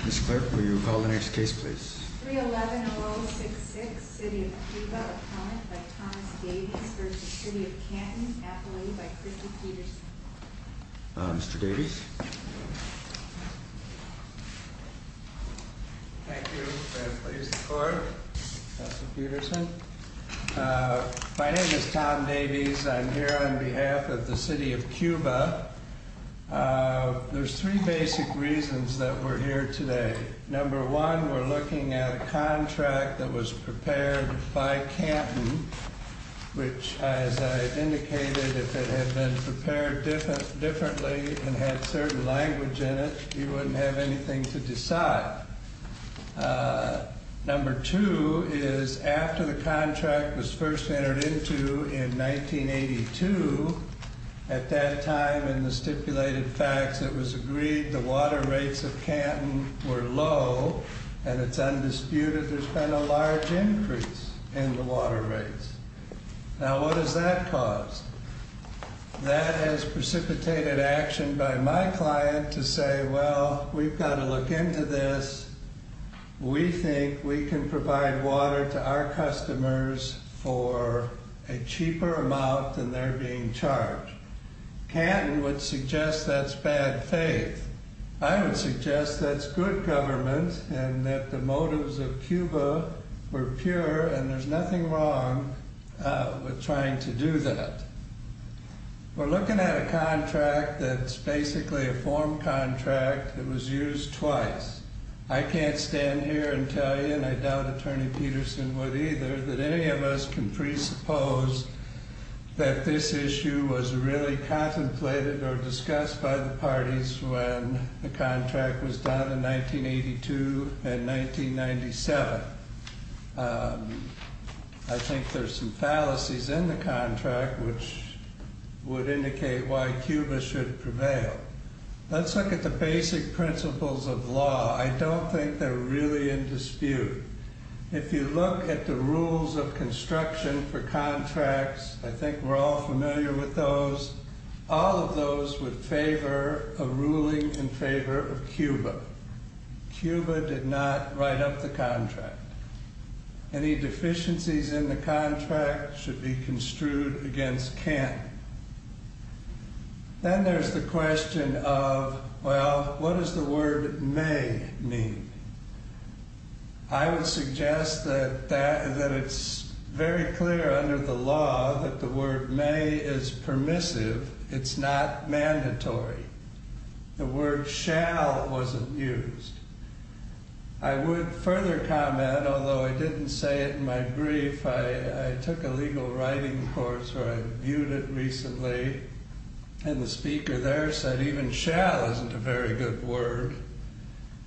Mr. Clerk, will you call the next case, please? 311-0066, City of Cuba, appellant by Thomas Davies v. City of Canton, appellate by Christy Peterson. Mr. Davies? Thank you. Very pleased to be here. My name is Tom Davies. I'm here on behalf of the City of Cuba. There's three basic reasons that we're here today. Number one, we're looking at a contract that was prepared by Canton, which, as I indicated, if it had been prepared differently and had certain language in it, you wouldn't have anything to decide. Number two is, after the contract was first entered into in 1982, at that time in the stipulated facts, it was agreed the water rates of Canton were low, and it's undisputed there's been a large increase in the water rates. Now, what has that caused? That has precipitated action by my client to say, well, we've got to look into this. We think we can provide water to our customers for a cheaper amount than they're being charged. Canton would suggest that's bad faith. I would suggest that's good government and that the motives of Cuba were pure, and there's nothing wrong with trying to do that. We're looking at a contract that's basically a form contract that was used twice. I can't stand here and tell you, and I doubt Attorney Peterson would either, that any of us can presuppose that this issue was really contemplated or discussed by the parties when the contract was done in 1982 and 1997. I think there's some fallacies in the contract which would indicate why Cuba should prevail. Let's look at the basic principles of law. I don't think they're really in dispute. If you look at the rules of construction for contracts, I think we're all familiar with those. All of those would favor a ruling in favor of Cuba. Cuba did not write up the contract. Any deficiencies in the contract should be construed against Canton. Then there's the question of, well, what does the word may mean? I would suggest that it's very clear under the law that the word may is permissive. It's not mandatory. The word shall wasn't used. I would further comment, although I didn't say it in my brief, I took a legal writing course where I viewed it recently, and the speaker there said even shall isn't a very good word,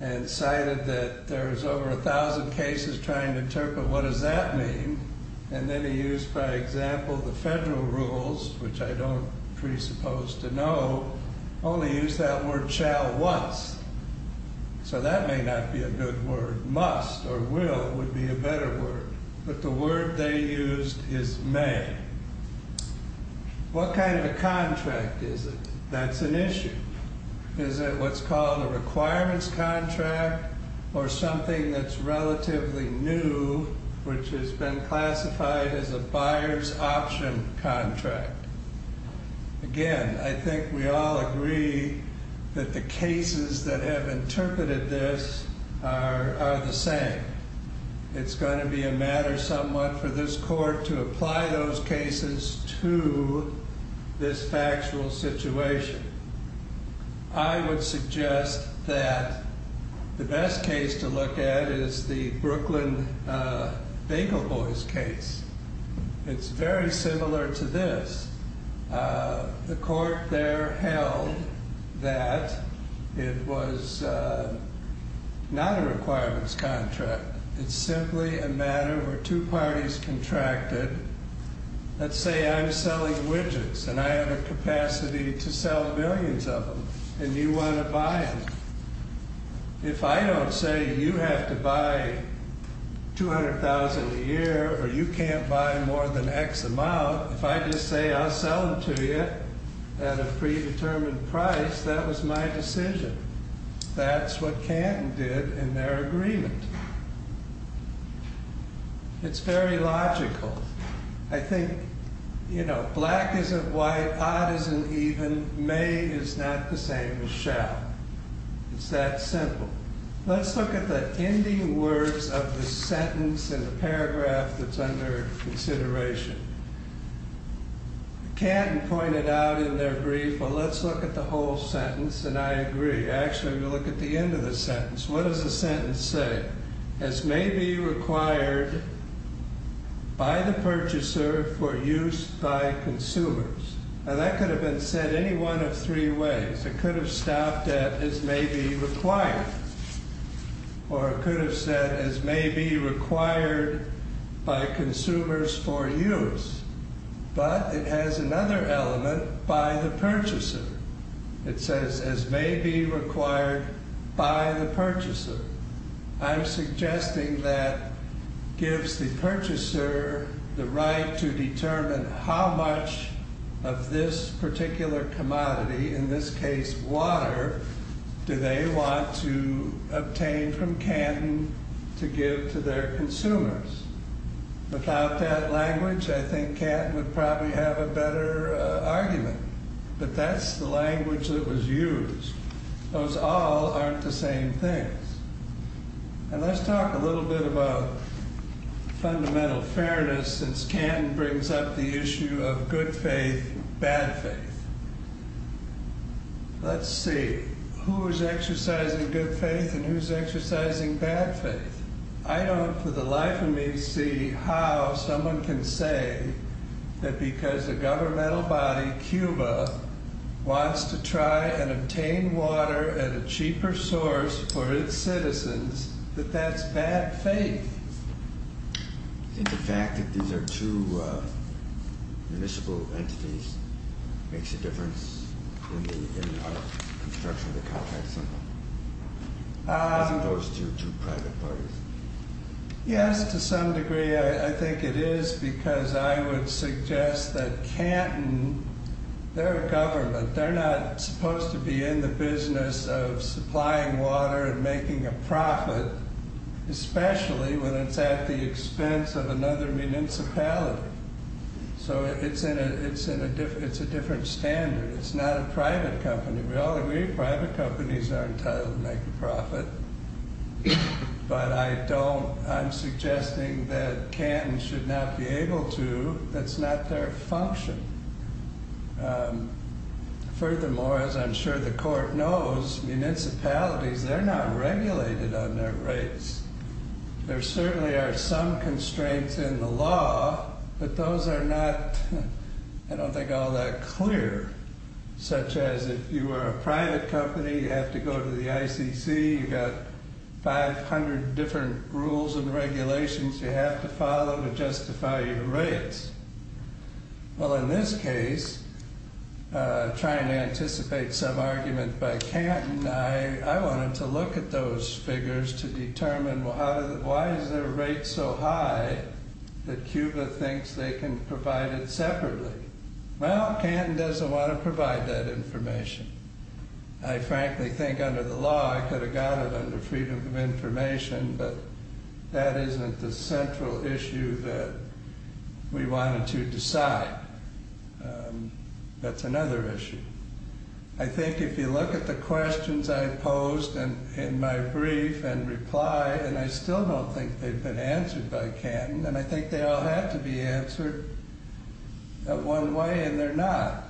and cited that there's over a thousand cases trying to interpret what does that mean. Then he used, for example, the federal rules, which I don't presuppose to know, only used that word shall once. That may not be a good word. Must or will would be a better word, but the word they used is may. What kind of a contract is it? That's an issue. Is it what's called a requirements contract or something that's relatively new, which has been classified as a buyer's option contract? Again, I think we all agree that the cases that have interpreted this are the same. It's going to be a matter somewhat for this court to apply those cases to this factual situation. I would suggest that the best case to look at is the Brooklyn Bagel Boys case. It's very similar to this. The court there held that it was not a requirements contract. It's simply a matter where two parties contracted. Let's say I'm selling widgets, and I have a capacity to sell millions of them, and you want to buy them. If I don't say you have to buy 200,000 a year or you can't buy more than X amount, if I just say I'll sell them to you at a predetermined price, that was my decision. That's what Canton did in their agreement. It's very logical. I think black isn't white, odd isn't even, may is not the same as shall. It's that simple. Let's look at the ending words of the sentence in the paragraph that's under consideration. Canton pointed out in their brief, well, let's look at the whole sentence, and I agree. Actually, we'll look at the end of the sentence. What does the sentence say? As may be required by the purchaser for use by consumers. That could have been said any one of three ways. It could have stopped at as may be required, or it could have said as may be required by consumers for use. But it has another element, by the purchaser. It says as may be required by the purchaser. I'm suggesting that gives the purchaser the right to determine how much of this particular commodity, in this case water, do they want to obtain from Canton to give to their consumers. Without that language, I think Canton would probably have a better argument. But that's the language that was used. Those all aren't the same things. And let's talk a little bit about fundamental fairness, since Canton brings up the issue of good faith, bad faith. Let's see, who is exercising good faith and who is exercising bad faith? I don't for the life of me see how someone can say that because a governmental body, Cuba, wants to try and obtain water at a cheaper source for its citizens, that that's bad faith. I think the fact that these are two municipal entities makes a difference in the construction of the contract somehow. As opposed to two private parties. Yes, to some degree, I think it is because I would suggest that Canton, their government, they're not supposed to be in the business of supplying water and making a profit, especially when it's at the expense of another municipality. So it's a different standard. It's not a private company. We all agree private companies are entitled to make a profit. But I don't, I'm suggesting that Canton should not be able to, that's not their function. Furthermore, as I'm sure the court knows, municipalities, they're not regulated on their rates. There certainly are some constraints in the law, but those are not, I don't think, all that clear, such as if you were a private company, you have to go to the ICC, you've got 500 different rules and regulations you have to follow to justify your rates. Well, in this case, trying to anticipate some argument by Canton, I wanted to look at those figures to determine why is their rate so high that Cuba thinks they can provide it separately? Well, Canton doesn't want to provide that information. I frankly think under the law, I could have got it under freedom of information, but that isn't the central issue that we wanted to decide. That's another issue. I think if you look at the questions I posed in my brief and reply, and I still don't think they've been answered by Canton, and I think they all had to be answered one way, and they're not.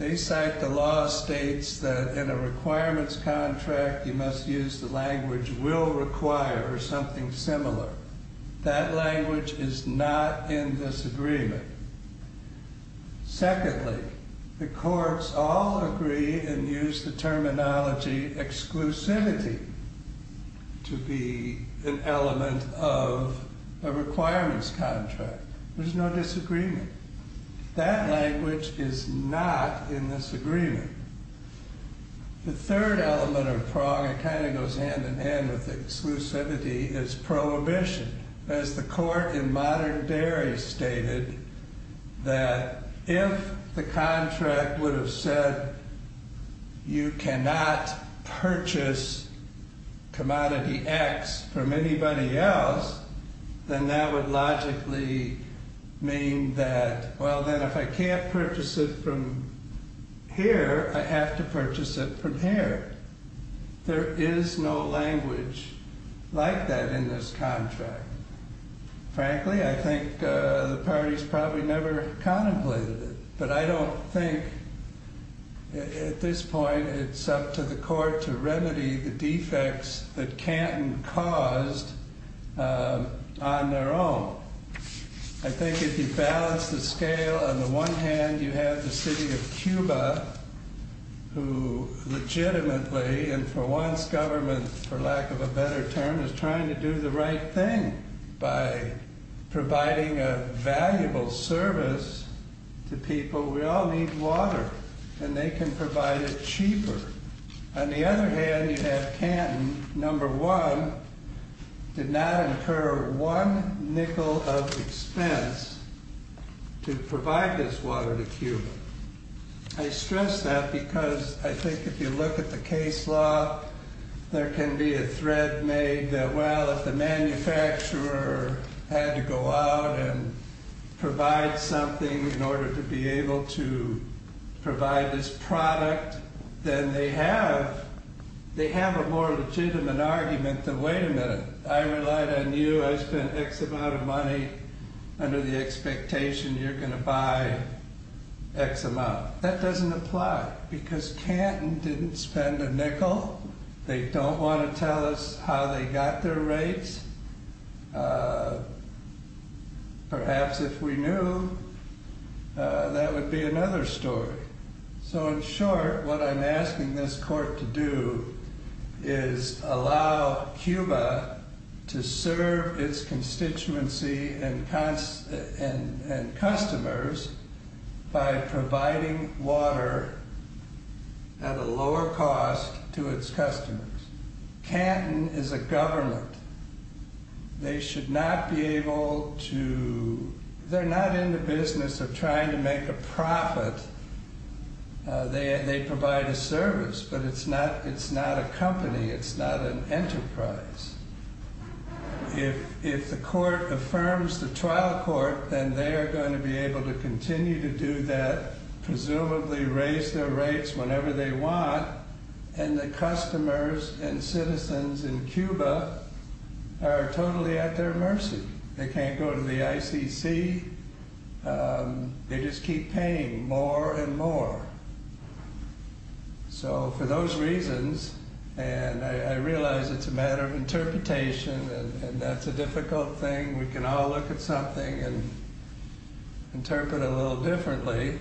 They cite the law states that in a requirements contract, you must use the language will require or something similar. That language is not in this agreement. Secondly, the courts all agree and use the terminology exclusivity to be an element of a requirements contract. There's no disagreement. That language is not in this agreement. The third element of prong, it kind of goes hand in hand with exclusivity, is prohibition. As the court in modern Derry stated, that if the contract would have said, you cannot purchase commodity X from anybody else, then that would logically mean that, well, then if I can't purchase it from here, I have to purchase it from here. There is no language like that in this contract. Frankly, I think the parties probably never contemplated it, but I don't think at this point, it's up to the court to remedy the defects that Canton caused on their own. I think if you balance the scale, on the one hand, you have the city of Cuba, who legitimately, and for once government, for lack of a better term, is trying to do the right thing by providing a valuable service to people. We all need water, and they can provide it cheaper. On the other hand, you have Canton, number one, did not incur one nickel of expense to provide this water to Cuba. I stress that because I think if you look at the case law, there can be a thread made that, well, if the manufacturer had to go out and provide something in order to be able to provide this product, then they have a more legitimate argument than, wait a minute, I relied on you, I spent X amount of money under the expectation you're going to buy X amount. That doesn't apply, because Canton didn't spend a nickel. They don't want to tell us how they got their rates. Perhaps if we knew, that would be another story. So in short, what I'm asking this court to do is allow Cuba to serve its constituency and customers by providing water at a lower cost to its customers. Canton is a government. They're not in the business of trying to make a profit. They provide a service, but it's not a company, it's not an enterprise. If the court affirms the trial court, then they are going to be able to continue to do that, presumably raise their rates whenever they want, and the customers and citizens in Cuba are totally at their mercy. They can't go to the ICC. They just keep paying more and more. So for those reasons, and I realize it's a matter of interpretation, and that's a difficult thing. We can all look at something and interpret it a little differently,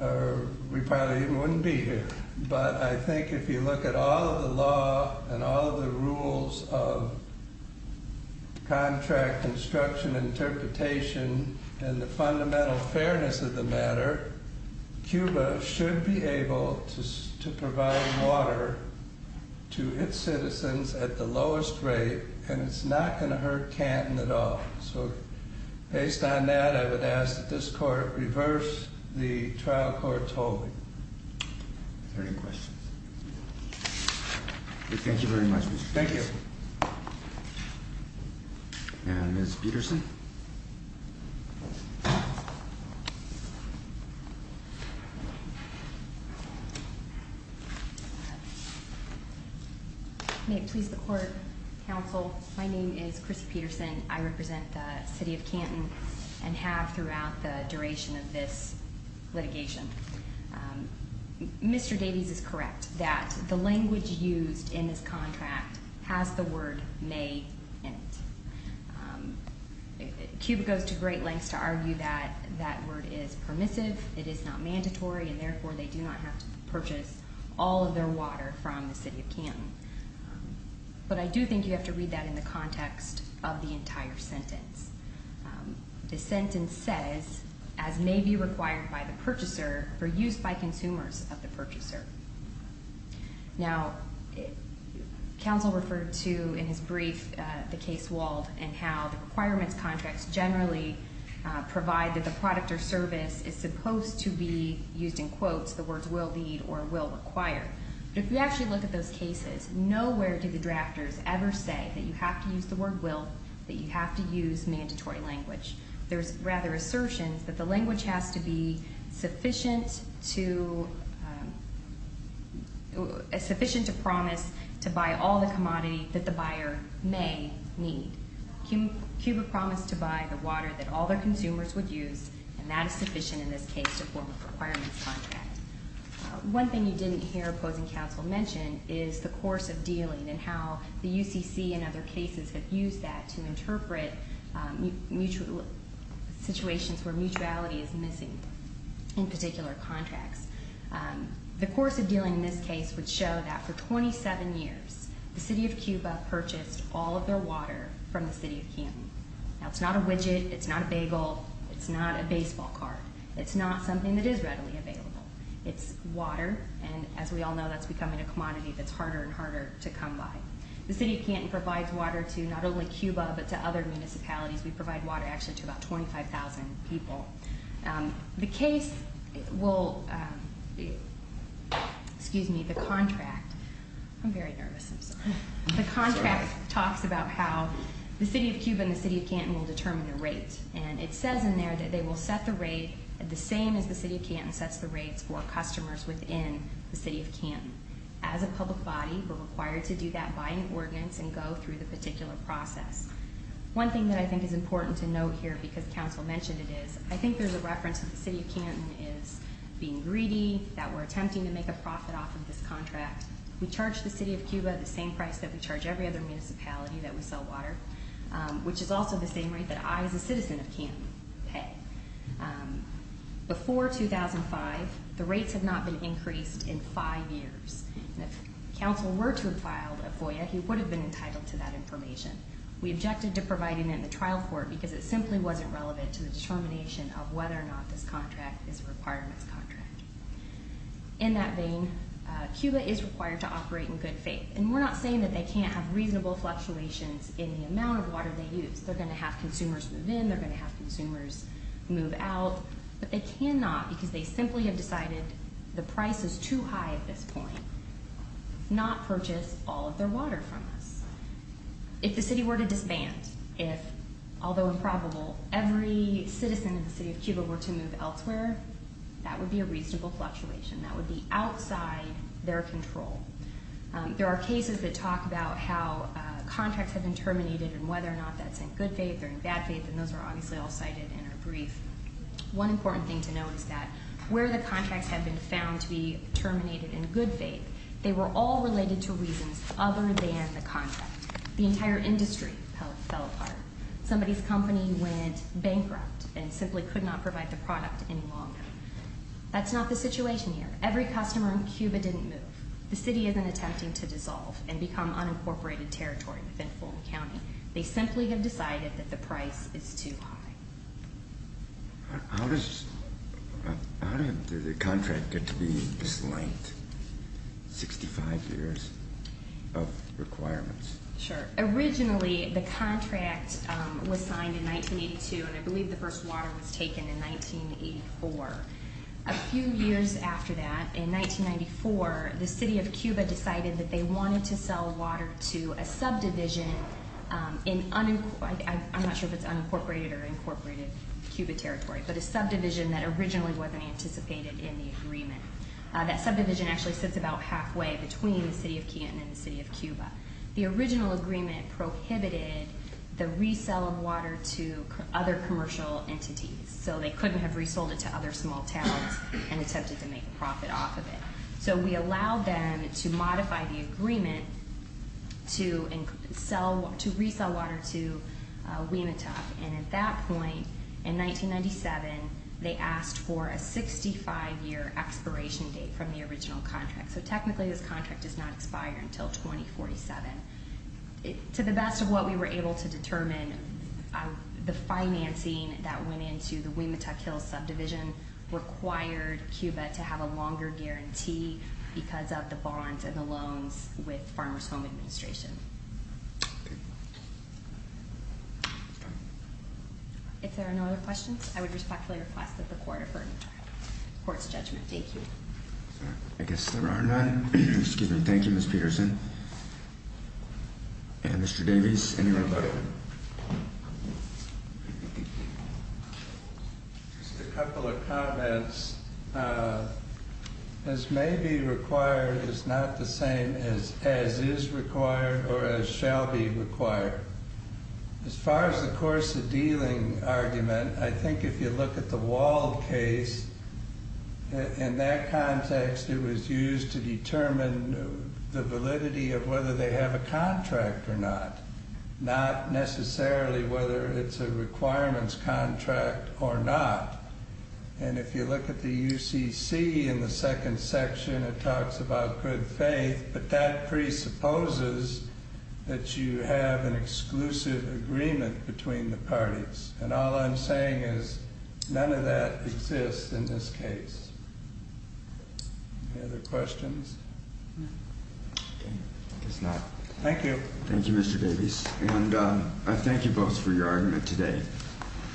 or we probably wouldn't even be here. But I think if you look at all of the law and all of the rules of contract, instruction, interpretation, and the fundamental fairness of the matter, Cuba should be able to provide water to its citizens at the lowest rate, and it's not going to hurt Canton at all. So based on that, I would ask that this court reverse the trial court's holding. Are there any questions? Thank you very much, Mr. Chairman. Thank you. And Ms. Peterson? May it please the court, counsel, my name is Chrissy Peterson. I represent the city of Canton and have throughout the duration of this litigation. Mr. Davies is correct that the language used in this contract has the word may in it. Cuba goes to great lengths to argue that that word is permissive, it is not mandatory, and therefore they do not have to purchase all of their water from the city of Canton. But I do think you have to read that in the context of the entire sentence. The sentence says, as may be required by the purchaser for use by consumers of the purchaser. Now, counsel referred to in his brief the case walled and how the requirements contracts generally provide that the product or service is supposed to be used in quotes, the words will lead or will require. But if you actually look at those cases, nowhere do the drafters ever say that you have to use the word will, that you have to use mandatory language. There's rather assertions that the language has to be sufficient to promise to buy all the commodity that the buyer may need. Cuba promised to buy the water that all their consumers would use, and that is sufficient in this case to form a requirements contract. One thing you didn't hear opposing counsel mention is the course of dealing and how the UCC and other cases have used that to interpret situations where mutuality is missing in particular contracts. The course of dealing in this case would show that for 27 years the city of Cuba purchased all of their water from the city of Canton. Now, it's not a widget, it's not a bagel, it's not a baseball card. It's not something that is readily available. It's water, and as we all know, that's becoming a commodity that's harder and harder to come by. The city of Canton provides water to not only Cuba but to other municipalities. We provide water actually to about 25,000 people. The case will, excuse me, the contract, I'm very nervous, I'm sorry. The contract talks about how the city of Cuba and the city of Canton will determine the rate. And it says in there that they will set the rate the same as the city of Canton sets the rates for customers within the city of Canton. As a public body, we're required to do that by an ordinance and go through the particular process. One thing that I think is important to note here because counsel mentioned it is, I think there's a reference that the city of Canton is being greedy, that we're attempting to make a profit off of this contract. We charge the city of Cuba the same price that we charge every other municipality that we sell water, which is also the same rate that I as a citizen of Canton pay. Before 2005, the rates had not been increased in five years. And if counsel were to have filed a FOIA, he would have been entitled to that information. We objected to providing it in the trial court because it simply wasn't relevant to the determination of whether or not this contract is a requirements contract. In that vein, Cuba is required to operate in good faith. And we're not saying that they can't have reasonable fluctuations in the amount of water they use. They're going to have consumers move in, they're going to have consumers move out. But they cannot, because they simply have decided the price is too high at this point, not purchase all of their water from us. If the city were to disband, if, although improbable, every citizen of the city of Cuba were to move elsewhere, that would be a reasonable fluctuation. That would be outside their control. There are cases that talk about how contracts have been terminated and whether or not that's in good faith or in bad faith, and those are obviously all cited in our brief. One important thing to know is that where the contracts have been found to be terminated in good faith, they were all related to reasons other than the contract. The entire industry fell apart. Somebody's company went bankrupt and simply could not provide the product any longer. That's not the situation here. Every customer in Cuba didn't move. The city isn't attempting to dissolve and become unincorporated territory within Fulton County. They simply have decided that the price is too high. How did the contract get to be this length, 65 years of requirements? Originally, the contract was signed in 1982, and I believe the first water was taken in 1984. A few years after that, in 1994, the city of Cuba decided that they wanted to sell water to a subdivision, I'm not sure if it's unincorporated or incorporated Cuba territory, but a subdivision that originally wasn't anticipated in the agreement. That subdivision actually sits about halfway between the city of Keaton and the city of Cuba. The original agreement prohibited the resell of water to other commercial entities, so they couldn't have resold it to other small towns and attempted to make a profit off of it. We allowed them to modify the agreement to resell water to WEMATOC. At that point, in 1997, they asked for a 65-year expiration date from the original contract. Technically, this contract does not expire until 2047. To the best of what we were able to determine, the financing that went into the WEMATOC Hills subdivision required Cuba to have a longer guarantee because of the bonds and the loans with Farmers Home Administration. If there are no other questions, I would respectfully request that the court defer court's judgment. Thank you. I guess there are none. Thank you, Ms. Peterson. Mr. Davies, any rebuttal? Just a couple of comments. As may be required is not the same as is required or as shall be required. As far as the course of dealing argument, I think if you look at the Wald case, in that context, it was used to determine the validity of whether they have a contract or not. Not necessarily whether it's a requirements contract or not. If you look at the UCC in the second section, it talks about good faith, but that presupposes that you have an exclusive agreement between the parties. All I'm saying is none of that exists in this case. Any other questions? I guess not. Thank you. Thank you, Mr. Davies. I thank you both for your argument today.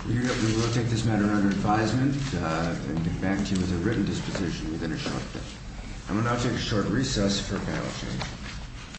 We will take this matter under advisement and get back to you with a written disposition within a short time. I will now take a short recess for panel discussion.